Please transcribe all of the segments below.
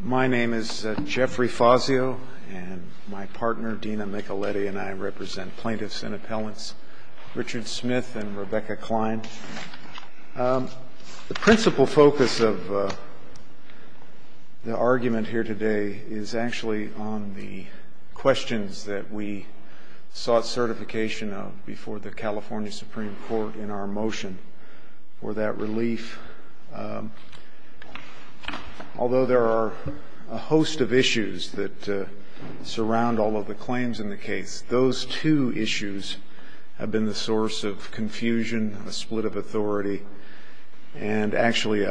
My name is Jeffrey Fazio, and my partner, Dina Micheletti, and I represent plaintiffs and appellants Richard Smith and Rebecca Klein. The principal focus of the argument here today is actually on the questions that we sought certification of before the California Supreme Court in our motion for that relief. Although there are a host of issues that surround all of the claims in the case, those two issues have been the source of confusion, a split of authority, and actually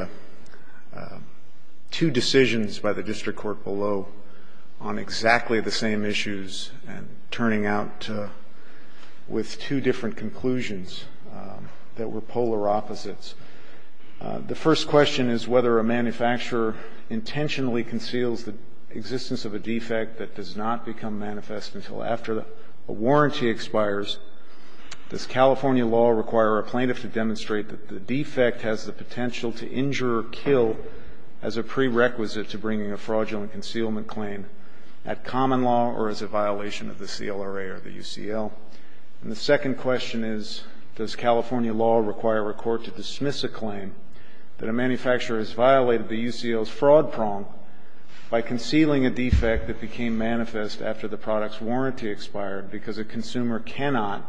two decisions by the district court below on exactly the same issues, and turning out with two different conclusions that were polar opposites. The first question is whether a manufacturer intentionally conceals the existence of a defect that does not become manifest until after a warranty expires. Does California law require a plaintiff to demonstrate that the defect has the potential to injure or kill as a prerequisite to bringing a fraudulent concealment claim at common law or as a violation of the CLRA or the UCL? And the second question is, does California law require a court to dismiss a claim that a manufacturer has violated the UCL's fraud prong by concealing a defect that became manifest after the product's warranty expired because a consumer cannot,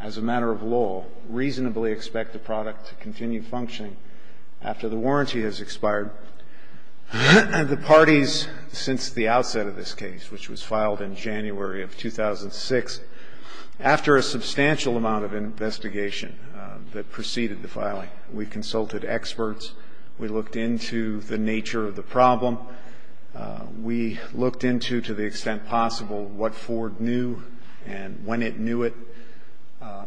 as a matter of law, reasonably expect the product to continue functioning after the warranty has expired? The parties, since the outset of this case, which was filed in January of 2006, after a substantial amount of investigation that preceded the filing, we consulted experts, we looked into the nature of the problem, we looked into, to the extent possible, what Ford knew and when it knew it,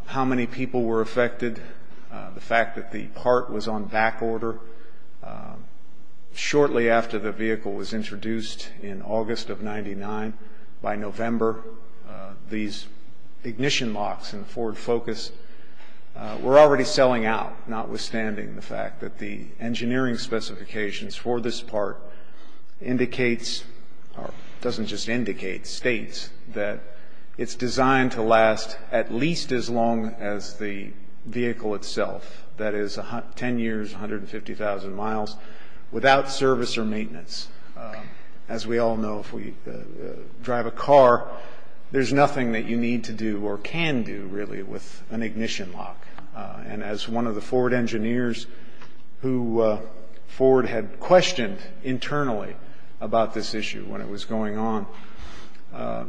how many people were affected, the fact that the part was on back order. Shortly after the vehicle was introduced in August of 99, by November, these ignition locks in Ford Focus were already selling out, notwithstanding the fact that the engineering specifications for this part indicates, or doesn't just indicate, states that it's designed to last at least as long as the vehicle itself, that is 10 years, 150,000 miles, without service or maintenance. As we all know, if we drive a car, there's nothing that you need to do or can do, really, with an ignition lock. And as one of the Ford engineers who Ford had questioned internally about this issue when it was going on,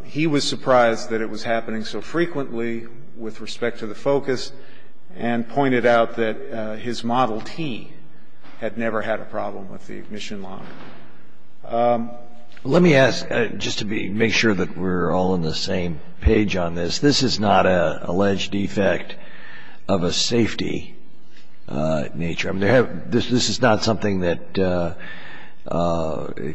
he was surprised that it was happening so frequently with respect to the Focus and pointed out that his Model T had never had a problem with the ignition lock. Let me ask, just to make sure that we're all on the same page on this, this is not an alleged defect of a safety nature. This is not something that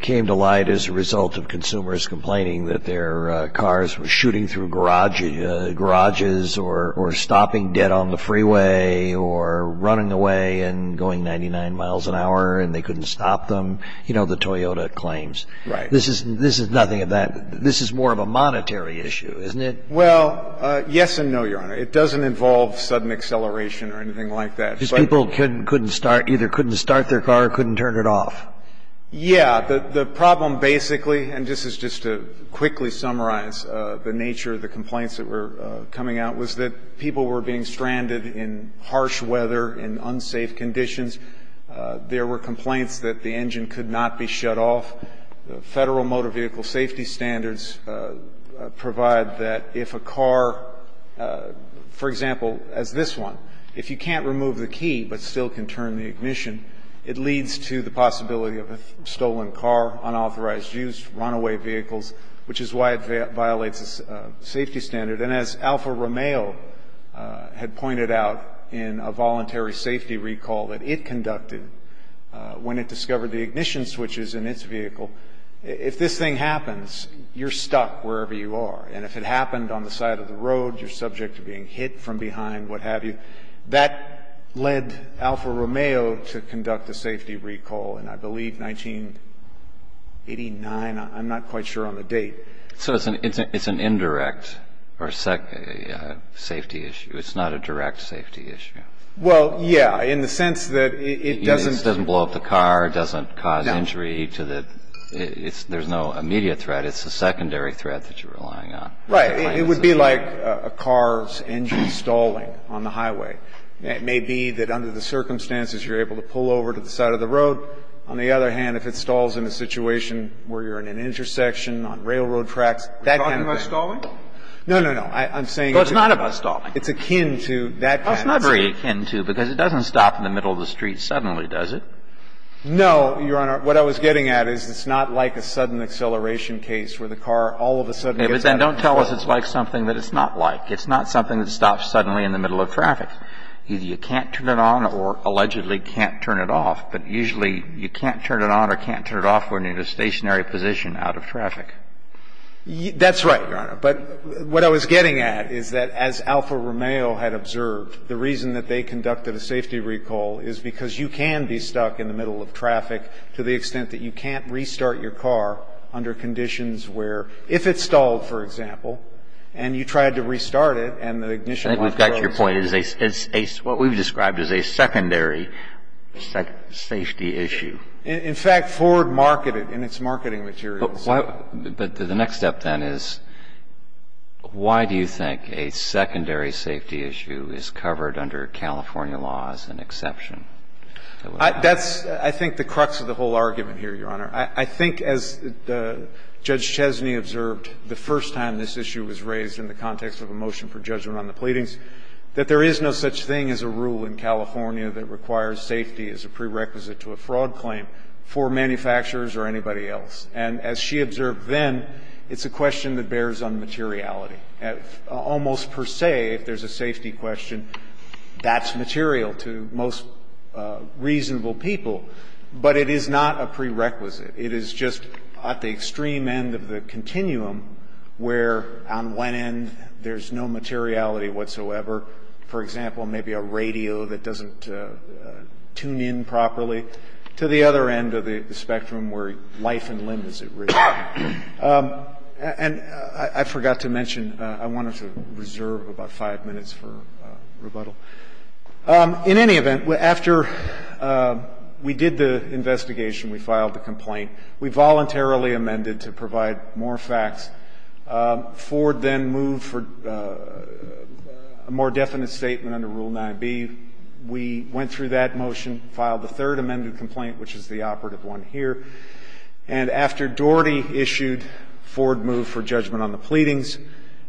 came to light as a result of consumers complaining that their cars were shooting through garages or stopping dead on the freeway or running away and going 99 miles an hour and they couldn't stop them, you know, the Toyota claims. This is nothing of that. This is more of a monetary issue, isn't it? Well, yes and no, Your Honor. It doesn't involve sudden acceleration or anything like that. Just people either couldn't start their car or couldn't turn it off. Yeah. The problem basically, and this is just to quickly summarize the nature of the complaints that were coming out, was that people were being stranded in harsh weather, in unsafe conditions. There were complaints that the engine could not be shut off. The Federal Motor Vehicle Safety Standards provide that if a car, for example, as this one, if you can't remove the key but still can turn the ignition, it leads to the possibility of a stranded. And as Alfa Romeo had pointed out in a voluntary safety recall that it conducted when it discovered the ignition switches in its vehicle, if this thing happens, you're stuck wherever you are. And if it happened on the side of the road, you're subject to being hit from behind, what have you. That led Alfa Romeo to conduct a safety recall in, I believe, 1989. I'm not quite sure on the date. So it's an indirect or safety issue. It's not a direct safety issue. Well, yeah. In the sense that it doesn't... It doesn't blow up the car. It doesn't cause injury to the... There's no immediate threat. It's a secondary threat that you're relying on. Right. It would be like a car's engine stalling on the highway. It may be that under the circumstances you're able to pull over to the side of the road. On the other hand, if it stalls in a road accident, that kind of thing... Are you talking about stalling? No, no, no. I'm saying... Oh, it's not about stalling. It's akin to that kind of thing. It's not very akin to, because it doesn't stop in the middle of the street suddenly, does it? No, Your Honor. What I was getting at is it's not like a sudden acceleration case where the car all of a sudden gets out of control. Yeah, but then don't tell us it's like something that it's not like. It's not something that stops suddenly in the middle of traffic. Either you can't turn it on or allegedly can't turn it off, but usually you can't turn it on or can't turn it off when you're in a stationary position out of traffic. That's right, Your Honor. But what I was getting at is that as Alfa Romeo had observed, the reason that they conducted a safety recall is because you can be stuck in the middle of traffic to the extent that you can't restart your car under conditions where, if it stalled, for example, and you tried to restart it and the ignition went... I think we've got your point. What we've described as a secondary safety issue. In fact, Ford marketed in its marketing materials... But the next step, then, is why do you think a secondary safety issue is covered under California law as an exception? That's, I think, the crux of the whole argument here, Your Honor. I think, as Judge Chesney observed the first time this issue was raised in the context of a motion for judgment on the pleadings, that there is no such thing as a rule in California that requires safety as a prerequisite to a fraud claim for manufacturers or anybody else. And as she observed then, it's a question that bears on materiality. Almost per se, if there's a safety question, that's material to most reasonable people. But it is not a prerequisite. It is just at the extreme end of the continuum where, on one end, there's no materiality whatsoever. For example, maybe a radio that doesn't tune in properly, to the other end of the spectrum where life and limb is at risk. And I forgot to mention, I wanted to reserve about five minutes for rebuttal. In any event, after we did the investigation, we filed the complaint. We voluntarily amended to provide more facts. Ford then moved for a more definite statement under Rule 9b. We went through that motion, filed the third amended complaint, which is the operative one here. And after Doherty issued, Ford moved for judgment on the pleadings.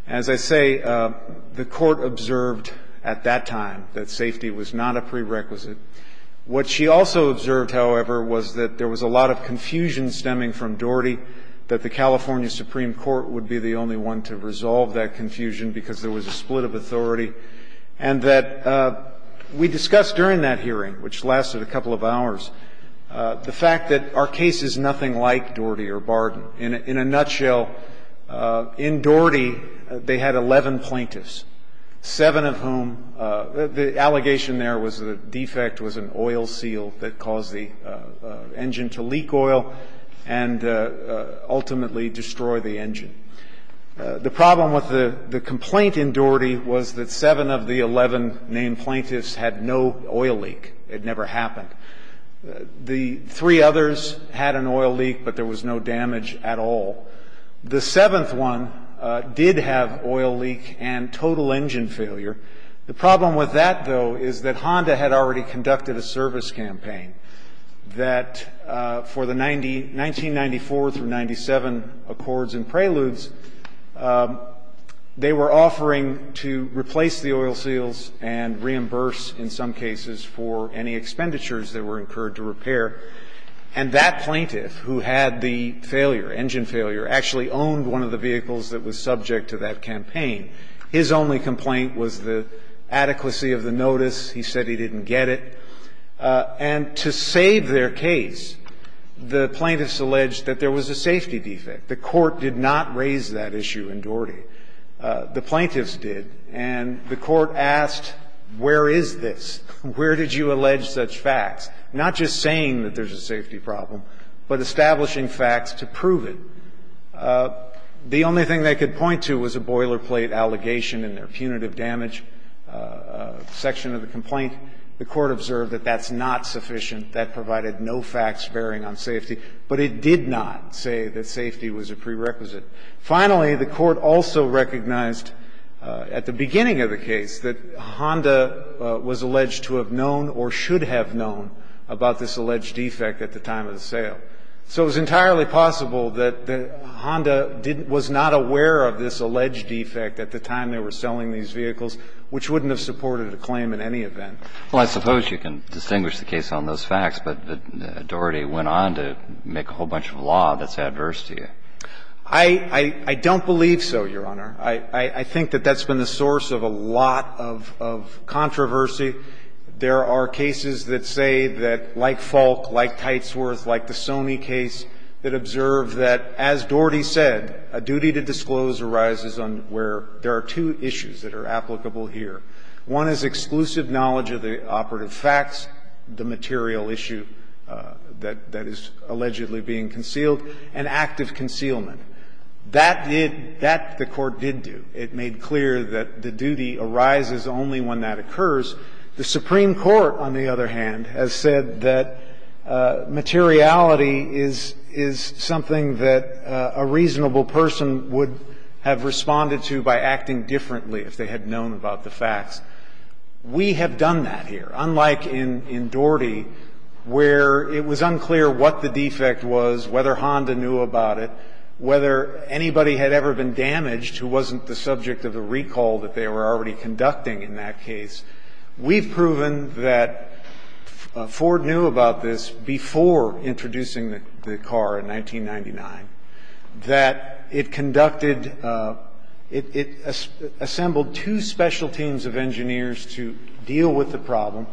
As I say, the Court observed at that time that safety was not a prerequisite. What she also observed, however, was that there was a lot of confusion stemming from Doherty, that the California Supreme Court would be the only one to resolve that confusion because there was a split of authority, and that we discussed during that hearing, which lasted a couple of hours, the fact that our case is nothing like Doherty or Barden. In a nutshell, in Doherty, they had 11 plaintiffs, seven of whom the allegation there was the defect was an oil seal that caused the engine to leak oil and ultimately destroy the engine. The problem with the complaint in Doherty was that seven of the 11 named plaintiffs had no oil leak. It never happened. The three others had an oil leak, but there was no damage at all. The seventh one did have oil leak and total engine failure. The problem with that, though, is that Honda had already conducted a service campaign that for the 1994 through 1997 accords and preludes, they were offering to replace the oil seals and reimburse, in some cases, for any expenditures that were incurred to repair. And that plaintiff, who had the failure, engine failure, actually owned one of the vehicles that was subject to that campaign. His only complaint was the adequacy of the notice. He said he didn't get it. And to save their case, the plaintiffs alleged that there was a safety defect. The Court did not raise that issue in Doherty. The plaintiffs did, and the Court asked, where is this? Where did you allege such facts? Not just saying that there's a safety problem, but establishing facts to prove it. The only thing they could point to was a boilerplate allegation in their punitive damage section of the complaint. The Court observed that that's not sufficient. That provided no facts bearing on safety. But it did not say that safety was a prerequisite. Finally, the Court also recognized at the beginning of the case that Honda was alleged to have known or should have known about this alleged defect at the time of the sale. So it was entirely possible that Honda was not aware of this alleged defect at the time they were selling these vehicles, which wouldn't have supported a claim in any event. Well, I suppose you can distinguish the case on those facts, but Doherty went on to make a whole bunch of law that's adverse to you. I don't believe so, Your Honor. I think that that's been the source of a lot of controversy. There are cases that say that, like Falk, like Tightsworth, like the Sony case, that are applicable here. One is exclusive knowledge of the operative facts, the material issue that is allegedly being concealed, and active concealment. That did – that, the Court did do. It made clear that the duty arises only when that occurs. The Supreme Court, on the other hand, has said that materiality is something that a reasonable person would have responded to by acting differently if they had known about the facts. We have done that here, unlike in Doherty, where it was unclear what the defect was, whether Honda knew about it, whether anybody had ever been damaged who wasn't the subject of the recall that they were already conducting in that case. We've proven that Ford knew about this before introducing the car in 1999, that it conducted – it assembled two special teams of engineers to deal with the problem.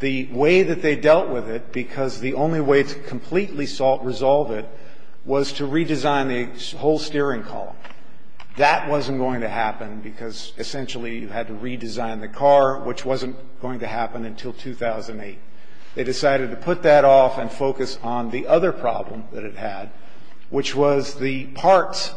The way that they dealt with it, because the only way to completely solve it was to redesign the whole steering column. That wasn't going to happen because, essentially, you had to redesign the car, which wasn't going to happen until 2008. They decided to put that off and focus on the other problem that it had, which was the parts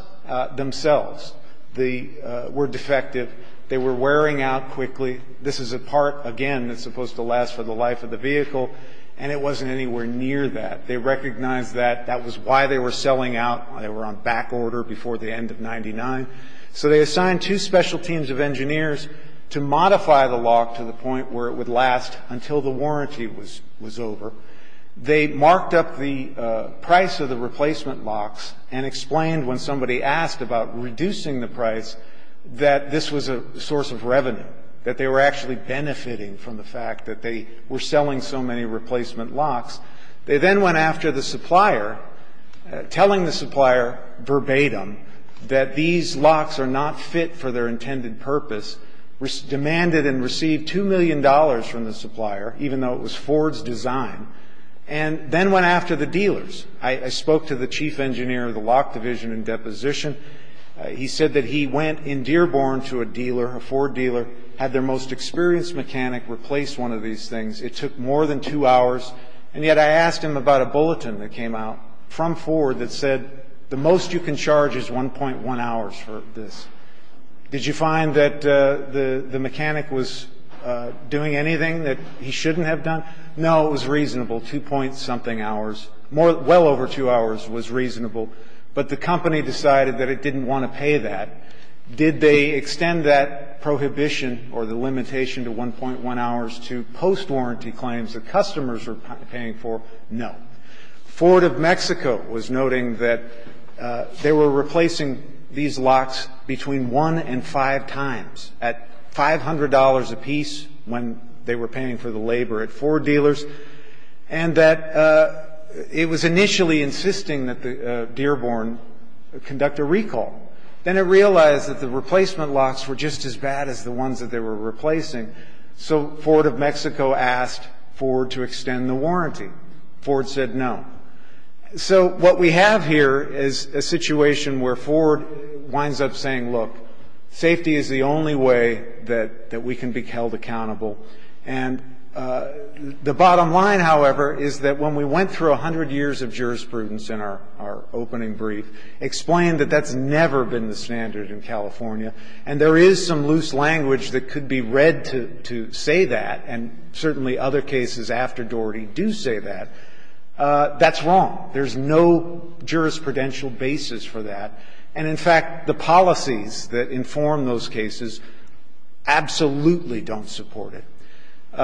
themselves. They were defective. They were wearing out quickly. This is a part, again, that's supposed to last for the life of the vehicle, and it wasn't anywhere near that. They recognized that that was why they were selling out. They were on back order before the end of 1999. So they assigned two special teams of engineers to modify the lock to the point where it would last until the warranty was over. They marked up the price of the replacement locks and explained when somebody asked about reducing the price that this was a source of revenue, that they were actually benefiting from the fact that they were selling so many replacement locks. They then went after the supplier, telling the supplier verbatim that these locks are not fit for their intended purpose, demanded and received $2 million from the supplier, even though it was Ford's design, and then went after the dealers. I spoke to the chief engineer of the lock division in deposition. He said that he went in Dearborn to a dealer, a Ford dealer, had their most experienced mechanic replace one of these things. It took more than two hours, and yet I asked him about a bulletin that came out from Ford that said the most you can charge is 1.1 hours for this. Did you find that the mechanic was doing anything that he shouldn't have done? No, it was reasonable, two point something hours. Well over two hours was reasonable. But the company decided that it didn't want to pay that. Did they extend that prohibition or the limitation to 1.1 hours to post-warranty claims that customers were paying for? No. Ford of Mexico was noting that they were replacing these locks between one and five times at $500 apiece when they were paying for the labor at Ford dealers, and that it was initially insisting that the Dearborn conduct a recall. Then it realized that the replacement locks were just as bad as the ones that they were replacing, so Ford of Mexico asked Ford to extend the warranty. Ford said no. So what we have here is a situation where Ford winds up saying, look, safety is the only way that we can be held accountable. And the bottom line, however, is that when we went through 100 years of jurisprudence in our opening brief, explained that that's never been the standard in California, and there is some loose language that could be read to say that, and certainly other cases after Doherty do say that, that's wrong. There's no jurisprudential basis for that. And in fact, the policies that inform those cases absolutely don't support it.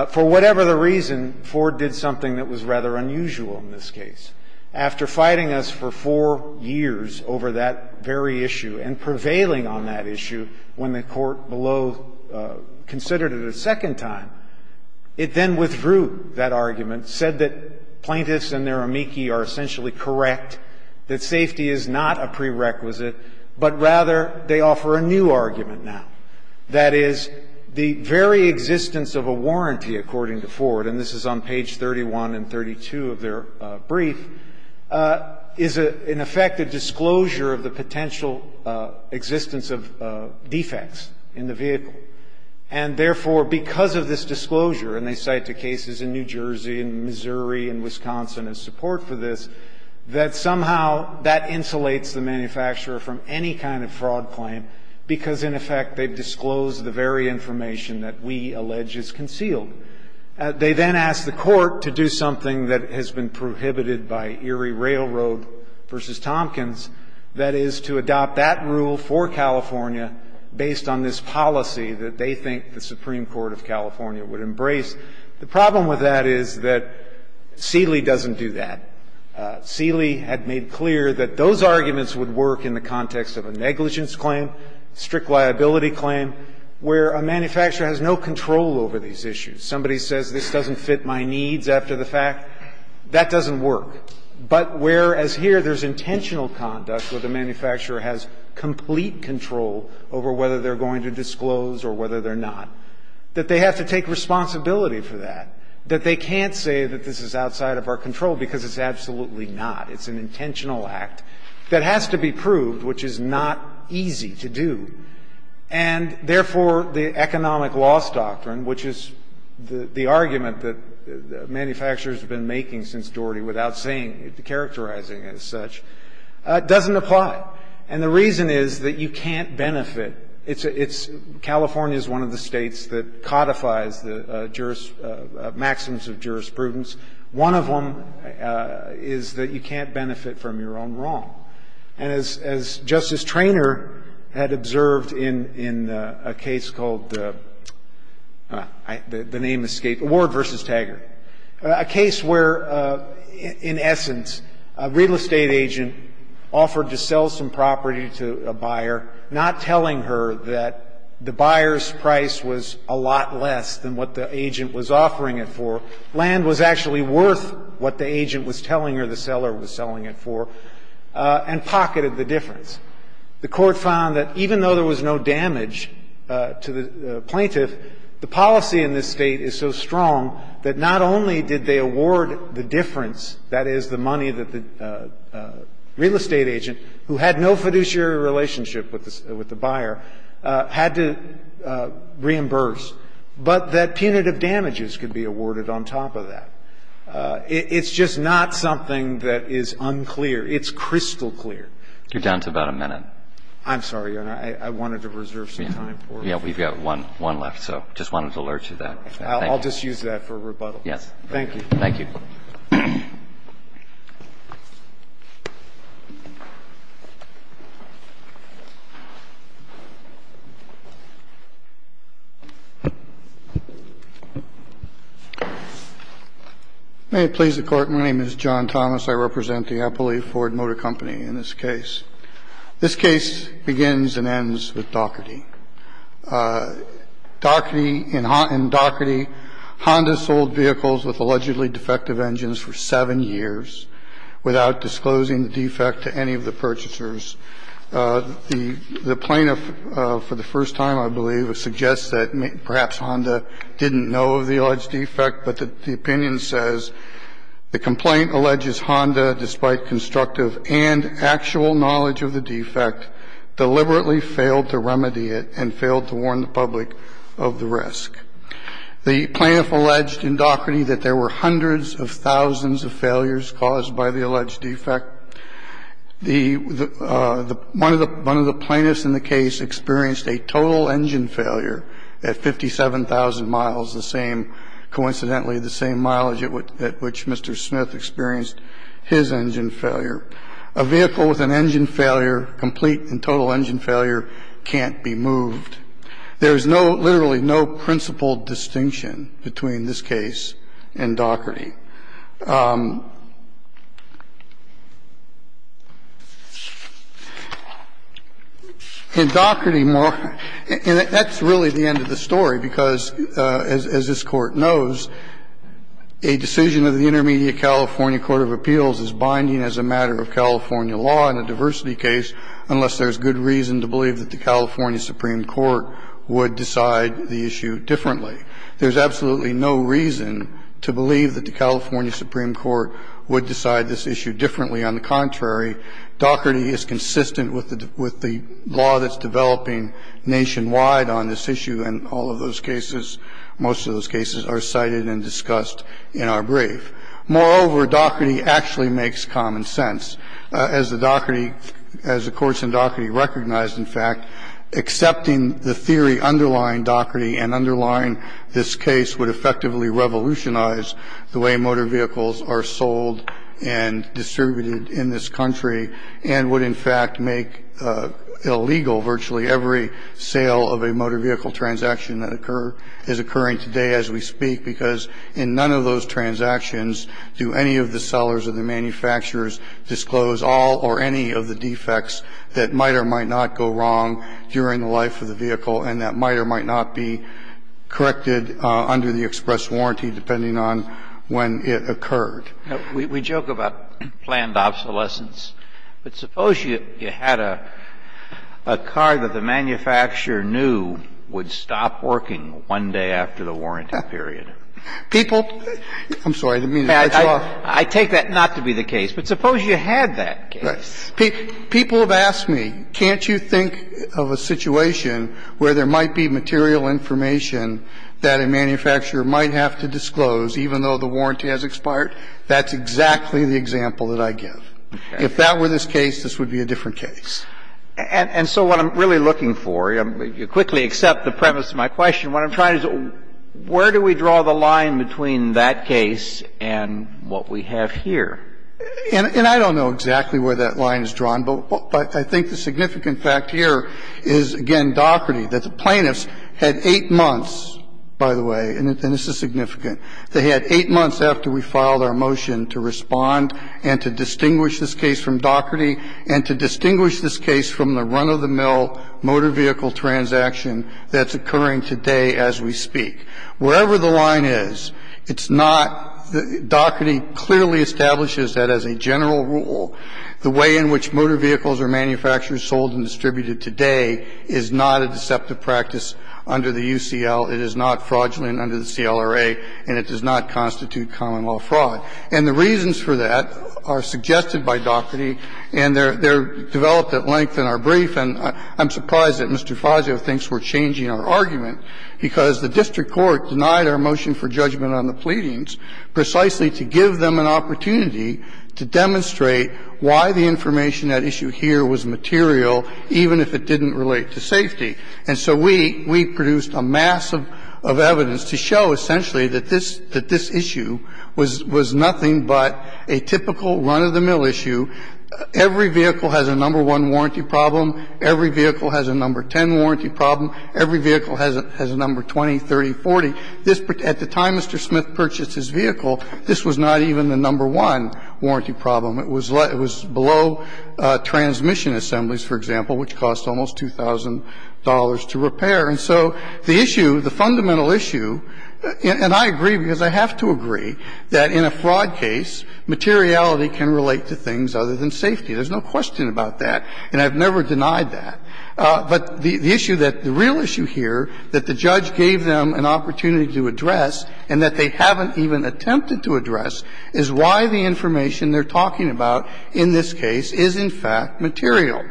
For whatever the reason, Ford did something that was rather unusual in this case. After fighting us for four years over that very issue and prevailing on that issue when the court below considered it a second time, it then withdrew that argument, said that plaintiffs and their amici are essentially correct, that safety is not a prerequisite, but rather they offer a new argument now. That is, the very existence of a warranty, according to Ford, and this is on page 31 and 32 of their brief, is in effect a disclosure of the potential existence of defects in the vehicle. And therefore, because of this disclosure, and they cite the cases in New Jersey and Missouri and Wisconsin as support for this, that somehow that insulates the manufacturer from any kind of fraud claim because, in effect, they've disclosed the very information that we allege is concealed. They then ask the Court to do something that has been prohibited by Erie Railroad v. Tompkins, that is, to adopt that rule for California based on this policy that they think the Supreme Court of California would embrace. The problem with that is that Seeley doesn't do that. Seeley had made clear that those arguments would work in the context of a negligence claim, strict liability claim, where a manufacturer has no control over these issues. Somebody says this doesn't fit my needs after the fact, that doesn't work. But whereas here there's intentional conduct where the manufacturer has complete control over whether they're going to disclose or whether they're not, that they have to take responsibility for that, that they can't say that this is outside of our control because it's absolutely not, it's an intentional act that has to be done, it's easy to do. And, therefore, the economic loss doctrine, which is the argument that manufacturers have been making since Doherty without saying it, characterizing it as such, doesn't apply. And the reason is that you can't benefit. It's a — California is one of the States that codifies the juris — maxims of jurisprudence. One of them is that you can't benefit from your own wrong. And as Justice Traynor had observed in a case called the — the name escaped me — Ward v. Taggart, a case where, in essence, a real estate agent offered to sell some property to a buyer, not telling her that the buyer's price was a lot less than what the agent was offering it for. Land was actually worth what the agent was telling her the seller was selling it for. And pocketed the difference. The Court found that even though there was no damage to the plaintiff, the policy in this State is so strong that not only did they award the difference, that is, the money that the real estate agent, who had no fiduciary relationship with the — with the buyer, had to reimburse, but that punitive damages could be awarded on top of that. It's just not something that is unclear. It's crystal clear. You're down to about a minute. I'm sorry, Your Honor. I wanted to reserve some time for it. Yeah. We've got one — one left, so just wanted to alert you to that. I'll just use that for rebuttal. Yes. Thank you. Thank you. May it please the Court, my name is John Thomas. I represent the Appalachee Ford Motor Company in this case. This case begins and ends with Daugherty. Daugherty — in Daugherty, Honda sold vehicles with allegedly defective engines for seven years without disclosing the defect to any of the purchasers. The plaintiff, for the first time, I believe, suggests that perhaps Honda didn't know of the alleged defect, but the opinion says, the complaint alleges Honda, despite constructive and actual knowledge of the defect, deliberately failed to remedy it. And failed to warn the public of the risk. The plaintiff alleged in Daugherty that there were hundreds of thousands of failures caused by the alleged defect. The — one of the — one of the plaintiffs in the case experienced a total engine failure at 57,000 miles, the same — coincidentally, the same mileage at which Mr. Smith experienced his engine failure. A vehicle with an engine failure, complete and total engine failure, can't be moved. There is no — literally no principled distinction between this case and Daugherty. In Daugherty — and that's really the end of the story, because, as this Court knows, a decision of the Intermediate California Court of Appeals is binding as a matter of California law in a diversity case, unless there's good reason to believe that the California Supreme Court would decide the issue differently. There's absolutely no reason to believe that the California Supreme Court would decide this issue differently. On the contrary, Daugherty is consistent with the — with the law that's developing nationwide on this issue, and all of those cases, most of those cases, are cited and discussed in our brief. Moreover, Daugherty actually makes common sense. As the Daugherty — as the courts in Daugherty recognize, in fact, accepting the theory underlying Daugherty and underlying this case would effectively revolutionize the way motor vehicles are sold and distributed in this country and would, in fact, make illegal virtually every sale of a motor vehicle transaction that occur — is occurring today as we speak, because in none of those transactions do any of the sellers or the manufacturers disclose all or any of the defects that might or might not go wrong during the life of the vehicle and that might or might not be corrected under the express warranty, depending on when it occurred. We joke about planned obsolescence, but suppose you had a car that the manufacturer knew would stop working one day after the warranty period. People — I'm sorry, I didn't mean to cut you off. I take that not to be the case, but suppose you had that case. People have asked me, can't you think of a situation where there might be material information that a manufacturer might have to disclose even though the warranty has expired? That's exactly the example that I give. If that were this case, this would be a different case. And so what I'm really looking for — you quickly accept the premise of my question — what I'm trying to do is, where do we draw the line between that case and what we have here? And I don't know exactly where that line is drawn, but I think the significant fact here is, again, Doherty, that the plaintiffs had 8 months, by the way, and this is significant. They had 8 months after we filed our motion to respond and to distinguish this case from Doherty and to distinguish this case from the run-of-the-mill motor vehicle transaction that's occurring today as we speak. Wherever the line is, it's not — Doherty clearly establishes that as a general rule, the way in which motor vehicles are manufactured, sold and distributed today is not a deceptive practice under the UCL. It is not fraudulent under the CLRA, and it does not constitute common law fraud. And the reasons for that are suggested by Doherty, and they're developed at length in our brief. And I'm surprised that Mr. Fazio thinks we're changing our argument, because the district court denied our motion for judgment on the pleadings precisely to give them an opportunity to demonstrate why the information at issue here was material, even if it didn't relate to safety. And so we — we produced a mass of evidence to show, essentially, that this — that this is nothing but a typical run-of-the-mill issue. Every vehicle has a number one warranty problem. Every vehicle has a number 10 warranty problem. Every vehicle has a number 20, 30, 40. This — at the time Mr. Smith purchased his vehicle, this was not even the number one warranty problem. It was below transmission assemblies, for example, which cost almost $2,000 to repair. And so the issue, the fundamental issue — and I agree, because I have to agree that in a fraud case, materiality can relate to things other than safety. There's no question about that, and I've never denied that. But the issue that — the real issue here that the judge gave them an opportunity to address and that they haven't even attempted to address is why the information they're talking about in this case is, in fact, material.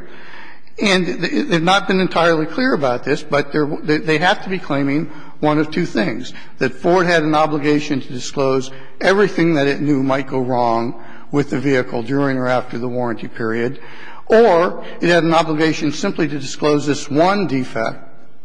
And they've not been entirely clear about this, but they're — they have to be claiming one of two things, that Ford had an obligation to disclose everything that it knew might go wrong with the vehicle during or after the warranty period, or it had an obligation simply to disclose this one defect,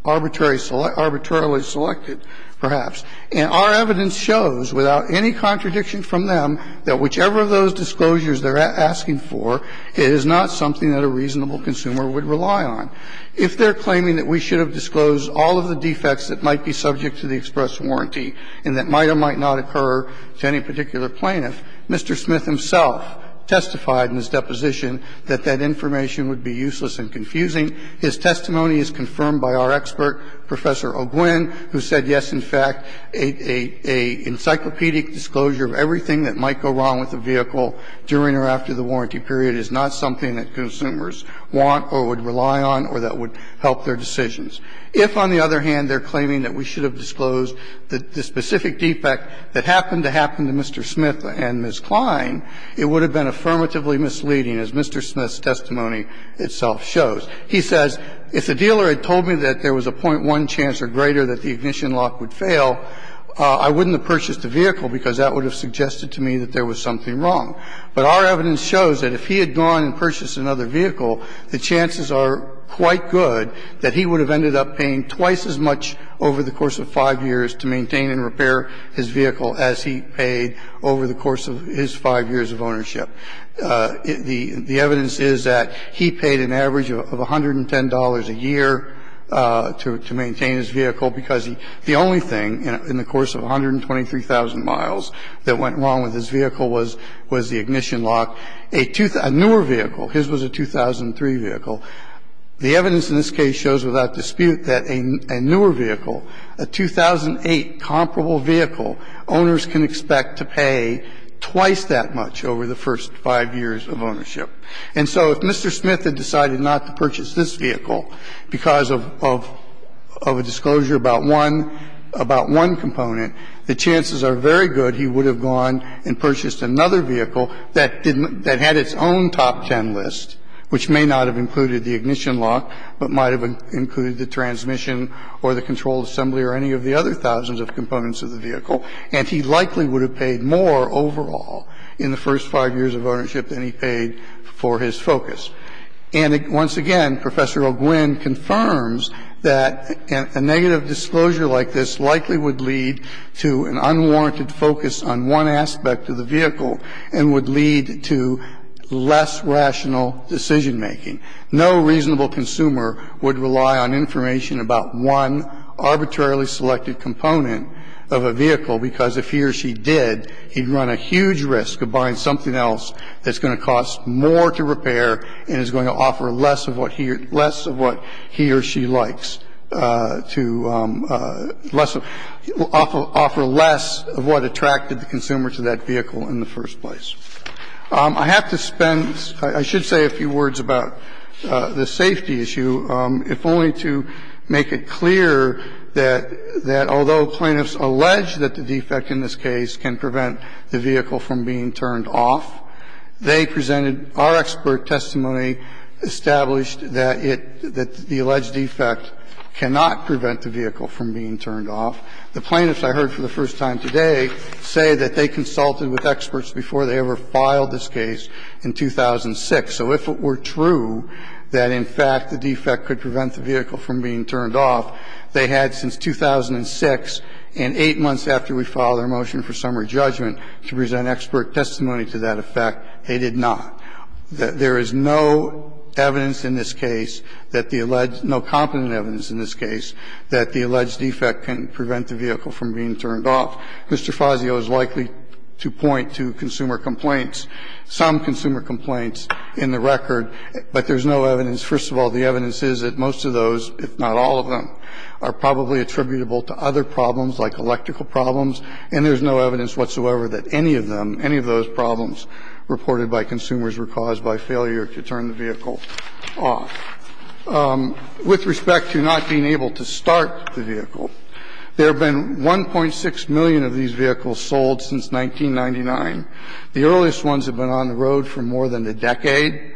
arbitrary — arbitrarily selected, perhaps. And our evidence shows, without any contradiction from them, that whichever of those disclosures they're asking for, it is not something that a reasonable consumer would rely on. If they're claiming that we should have disclosed all of the defects that might be subject to the express warranty and that might or might not occur to any particular plaintiff, Mr. Smith himself testified in his deposition that that information would be useless and confusing. His testimony is confirmed by our expert, Professor O'Gwin, who said, yes, in fact, a — a encyclopedic disclosure of everything that might go wrong with the vehicle during or after the warranty period is not something that consumers want or would rely on or that would help their decisions. If, on the other hand, they're claiming that we should have disclosed the specific defect that happened to happen to Mr. Smith and Ms. Kline, it would have been affirmatively misleading, as Mr. Smith's testimony itself shows. He says, if the dealer had told me that there was a .1 chance or greater that the ignition lock would fail, I wouldn't have purchased the vehicle, because that would have suggested to me that there was something wrong. But our evidence shows that if he had gone and purchased another vehicle, the chances are quite good that he would have ended up paying twice as much over the course of 5 years to maintain and repair his vehicle as he paid over the course of his 5 years of ownership. The evidence is that he paid an average of $110 a year to maintain his vehicle, because the only thing in the course of 123,000 miles that went wrong with his vehicle was the ignition lock. A newer vehicle, his was a 2003 vehicle. The evidence in this case shows without dispute that a newer vehicle, a 2008 comparable vehicle, owners can expect to pay twice that much over the first 5 years of ownership. And so if Mr. Smith had decided not to purchase this vehicle because of a disclosure about one component, the chances are very good he would have gone and purchased another vehicle that had its own top ten list, which may not have included the ignition lock, but might have included the transmission or the controlled assembly or any of the other thousands of components of the vehicle, and he likely would have paid more overall in the first 5 years of ownership than he paid for his focus. And once again, Professor O'Gwin confirms that a negative disclosure like this likely would lead to an unwarranted focus on one aspect of the vehicle and would lead to less rational decision-making. No reasonable consumer would rely on information about one arbitrarily selected component of a vehicle, because if he or she did, he'd run a huge risk of buying something else that's going to cost more to repair and is going to offer less of what he or she likes to less of offer less of what attracted the consumer to that vehicle in the first place. I have to spend – I should say a few words about the safety issue, if only to make it clear that although plaintiffs allege that the defect in this case can prevent the vehicle from being turned off, they presented our expert testimony established that it – that the alleged defect cannot prevent the vehicle from being turned off. The plaintiffs I heard for the first time today say that they consulted with experts before they ever filed this case in 2006. So if it were true that, in fact, the defect could prevent the vehicle from being turned off, they had since 2006 and 8 months after we filed our motion for summary judgment to present expert testimony to that effect, they did not. There is no evidence in this case that the – no competent evidence in this case that the alleged defect can prevent the vehicle from being turned off. Mr. Fazio is likely to point to consumer complaints, some consumer complaints in the record, but there's no evidence. First of all, the evidence is that most of those, if not all of them, are probably attributable to other problems like electrical problems, and there's no evidence whatsoever that any of them, any of those problems reported by consumers were caused by failure to turn the vehicle off. With respect to not being able to start the vehicle, there have been 1.6 million of these vehicles sold since 1999. The earliest ones have been on the road for more than a decade.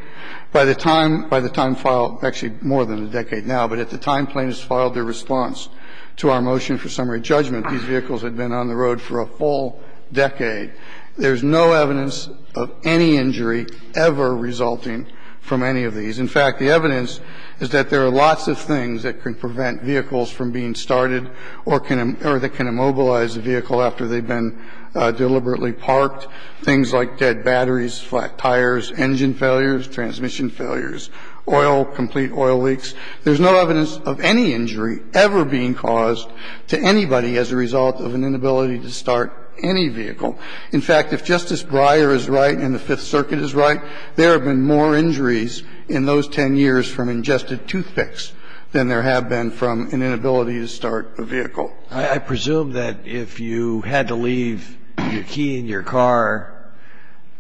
By the time – by the time filed – actually, more than a decade now, but at the time plaintiffs filed their response to our motion for summary judgment, these vehicles had been on the road for a full decade. There's no evidence of any injury ever resulting from any of these. In fact, the evidence is that there are lots of things that can prevent vehicles from being started or can – or that can immobilize a vehicle after they've been deliberately parked, things like dead batteries, flat tires, engine failures, transmission failures, oil, complete oil leaks. There's no evidence of any injury ever being caused to anybody as a result of an inability to start any vehicle. In fact, if Justice Breyer is right and the Fifth Circuit is right, there have been more injuries in those 10 years from ingested toothpicks than there have been from an inability to start a vehicle. I presume that if you had to leave your key in your car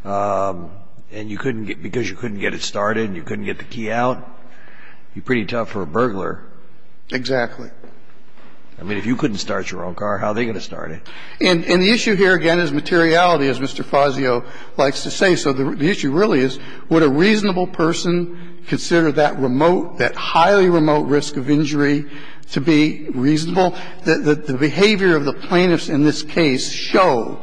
and you couldn't get – because you couldn't get it started and you couldn't get the key out, you pretty damn well would be tough for a burglar. Exactly. I mean, if you couldn't start your own car, how are they going to start it? And the issue here, again, is materiality, as Mr. Fazio likes to say. So the issue really is would a reasonable person consider that remote, that highly remote risk of injury to be reasonable? The behavior of the plaintiffs in this case show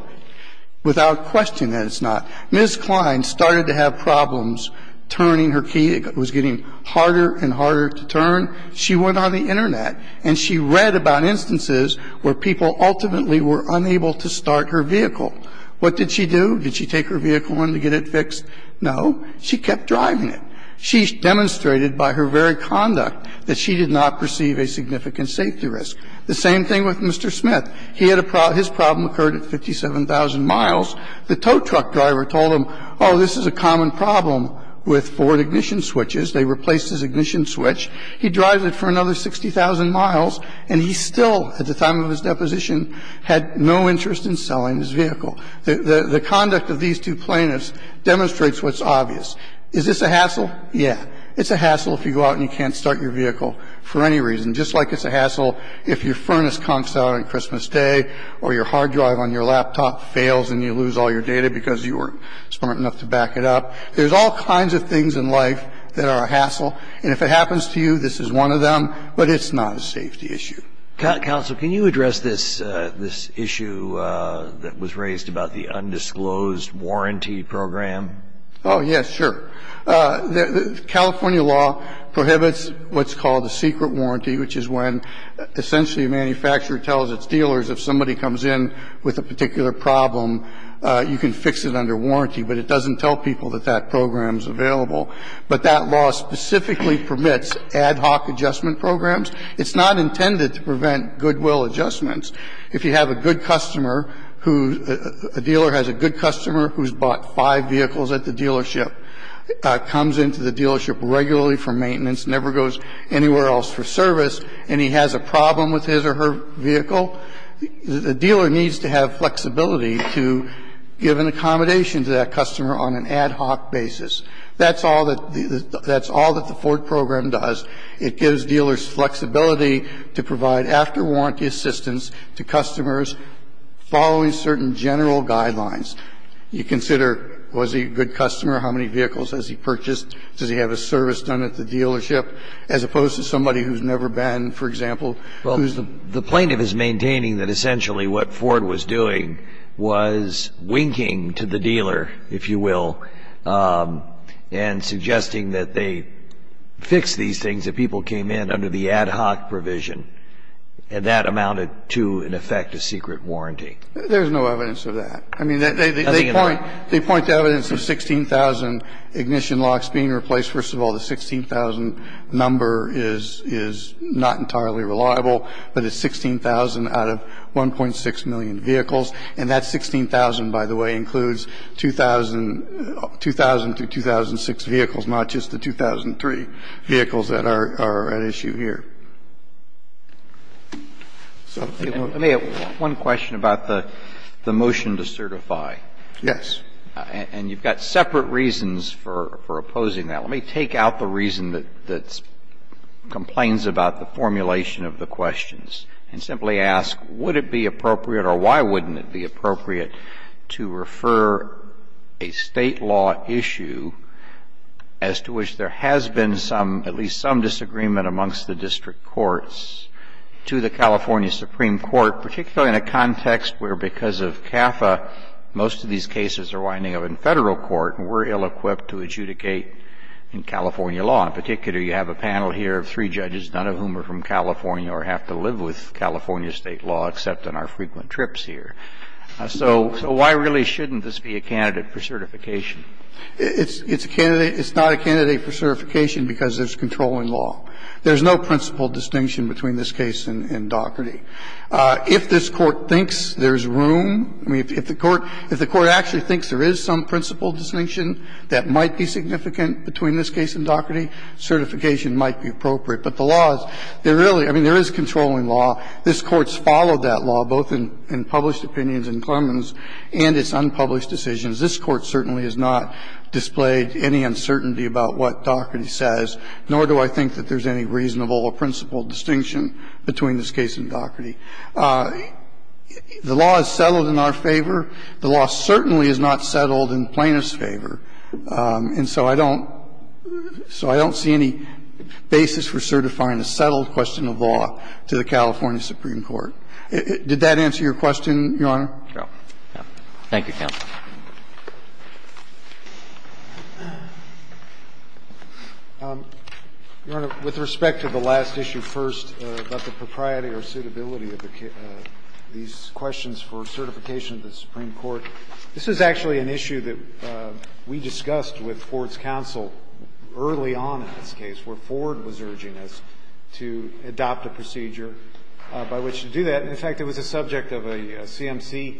without question that it's not. Ms. Klein started to have problems turning her key. It was getting harder and harder to turn. She went on the Internet and she read about instances where people ultimately were unable to start her vehicle. What did she do? Did she take her vehicle in to get it fixed? No. She kept driving it. She demonstrated by her very conduct that she did not perceive a significant safety risk. The same thing with Mr. Smith. He had a problem – his problem occurred at 57,000 miles. The tow truck driver told him, oh, this is a common problem with Ford ignition switches. They replaced his ignition switch. He drives it for another 60,000 miles and he still, at the time of his deposition, had no interest in selling his vehicle. The conduct of these two plaintiffs demonstrates what's obvious. Is this a hassle? Yeah. It's a hassle if you go out and you can't start your vehicle for any reason, just like it's a hassle if your furnace conks out on Christmas Day or your hard drive on your laptop fails and you lose all your data because you weren't smart enough to back it up. There's all kinds of things in life that are a hassle. And if it happens to you, this is one of them, but it's not a safety issue. Counsel, can you address this issue that was raised about the undisclosed warranty program? Oh, yes, sure. California law prohibits what's called a secret warranty, which is when essentially a manufacturer tells its dealers if somebody comes in with a particular problem, you can fix it under warranty, but it doesn't tell people that that program is available. But that law specifically permits ad hoc adjustment programs. It's not intended to prevent goodwill adjustments. If you have a good customer who the dealer has a good customer who's bought five vehicles at the dealership, comes into the dealership regularly for maintenance, never goes anywhere else for service, and he has a problem with his or her vehicle, the dealer needs to have flexibility to give an accommodation to that customer on an ad hoc basis. That's all that the Ford program does. It gives dealers flexibility to provide after-warranty assistance to customers following certain general guidelines. You consider, was he a good customer? How many vehicles has he purchased? Does he have a service done at the dealership? As opposed to somebody who's never been, for example, who's the plaintiff's maintaining that essentially what Ford was doing was winking to the dealer, if you will, and suggesting that they fix these things that people came in under the ad hoc provision. And that amounted to, in effect, a secret warranty. There's no evidence of that. I mean, they point to evidence of 16,000 ignition locks being replaced. First of all, the 16,000 number is not entirely reliable, but it's 16,000 out of 1.6 million vehicles. And that 16,000, by the way, includes 2,000 to 2006 vehicles, not just the 2003 vehicles that are at issue here. So if you will. Roberts, let me ask one question about the motion to certify. Yes. And you've got separate reasons for opposing that. Let me take out the reason that complains about the formulation of the questions and simply ask, would it be appropriate or why wouldn't it be appropriate to refer a State law issue as to which there has been some, at least some, disagreement amongst the district courts to the California Supreme Court, particularly in a context where, because of CAFA, most of these cases are winding up in Federal court and we're ill-equipped to adjudicate in California law. In particular, you have a panel here of three judges, none of whom are from California or have to live with California State law except on our frequent trips here. So why really shouldn't this be a candidate for certification? It's a candidate. It's not a candidate for certification because there's controlling law. There's no principle distinction between this case and Daugherty. If this Court thinks there's room, I mean, if the Court actually thinks there is some principle distinction that might be significant between this case and Daugherty, certification might be appropriate. But the law is, there really, I mean, there is controlling law. This Court's followed that law both in published opinions in Clemens and its unpublished decisions. This Court certainly has not displayed any uncertainty about what Daugherty says, nor do I think that there's any reasonable or principle distinction between this case and Daugherty. The law is settled in our favor. The law certainly is not settled in plaintiff's favor. And so I don't see any basis for certifying a settled question of law to the California Supreme Court. Did that answer your question, Your Honor? No. Roberts. Thank you, counsel. Your Honor, with respect to the last issue first about the propriety or suitability of these questions for certification of the Supreme Court, this is actually an issue that we discussed with Ford's counsel early on in this case, where Ford was urging us to adopt a procedure by which to do that. In fact, it was the subject of a CMC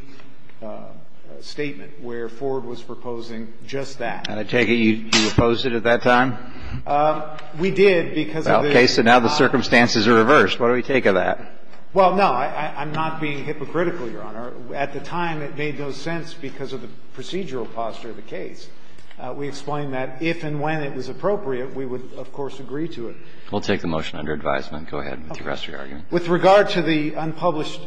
statement where Ford was proposing just that. And I take it you opposed it at that time? We did because of the law. The circumstances are reversed. What do we take of that? Well, no, I'm not being hypocritical, Your Honor. At the time, it made no sense because of the procedural posture of the case. We explained that if and when it was appropriate, we would, of course, agree to it. We'll take the motion under advisement. Go ahead with the rest of your argument. With regard to the unpublished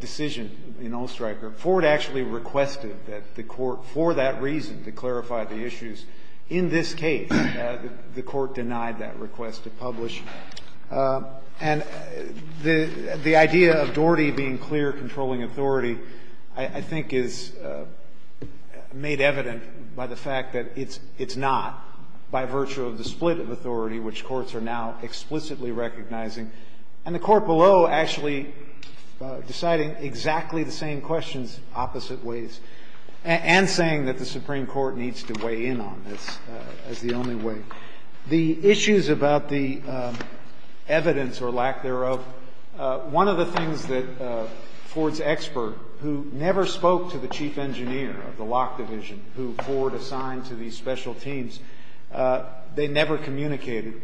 decision in Ollstreicher, Ford actually requested that the Court, for that reason, to clarify the issues in this case, the Court denied that request to publish. And the idea of Doherty being clear, controlling authority, I think, is made evident by the fact that it's not by virtue of the split of authority, which courts are now explicitly recognizing, and the Court below actually deciding exactly the same questions opposite ways, and saying that the Supreme Court needs to weigh in on this as the only way. The issues about the evidence, or lack thereof, one of the things that Ford's expert, who never spoke to the chief engineer of the lock division, who Ford assigned to these special teams, they never communicated,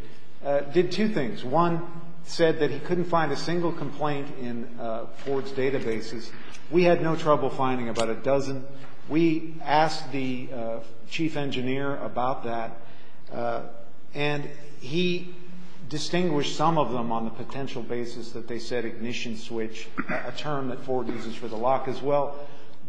did two things. One said that he couldn't find a single complaint in Ford's databases. We had no trouble finding about a dozen. We asked the chief engineer about that, and he distinguished some of them on the potential basis that they said ignition switch, a term that Ford uses for the lock as well.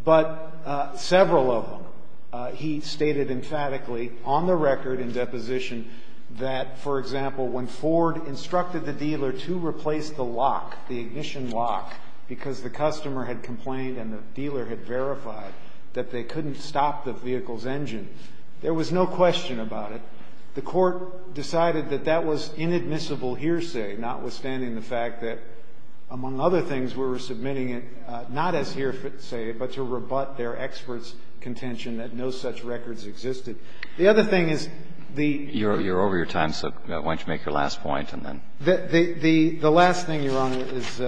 But several of them, he stated emphatically on the record in deposition that, for example, when Ford instructed the dealer to replace the lock, the ignition lock, because the customer had complained and the dealer had verified that they couldn't stop the vehicle's engine, there was no question about it. The Court decided that that was inadmissible hearsay, notwithstanding the fact that, among other things, we were submitting it not as hearsay, but to rebut their expert's contention that no such records existed. The other thing is the ---- Alito, you're over your time, so why don't you make your last point and then ---- The last thing, Your Honor, is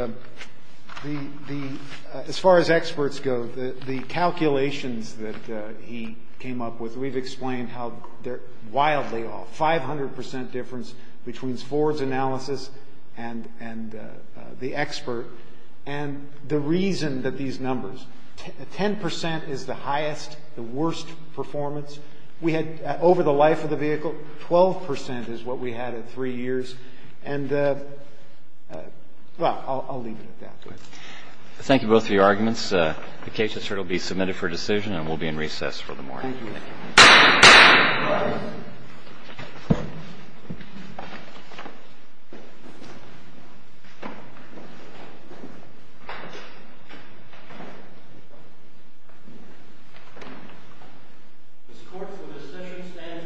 as far as experts go, the calculations that he came up with, we've explained how they're wildly off, 500 percent difference between Ford's analysis and the expert. And the reason that these numbers, 10 percent is the highest, the worst performance we had over the life of the vehicle. Twelve percent is what we had in three years. And, well, I'll leave it at that. Thank you both for your arguments. The case has heard will be submitted for decision, and we'll be in recess for the morning. Thank you. Court is adjourned. This court for the session stands adjourned.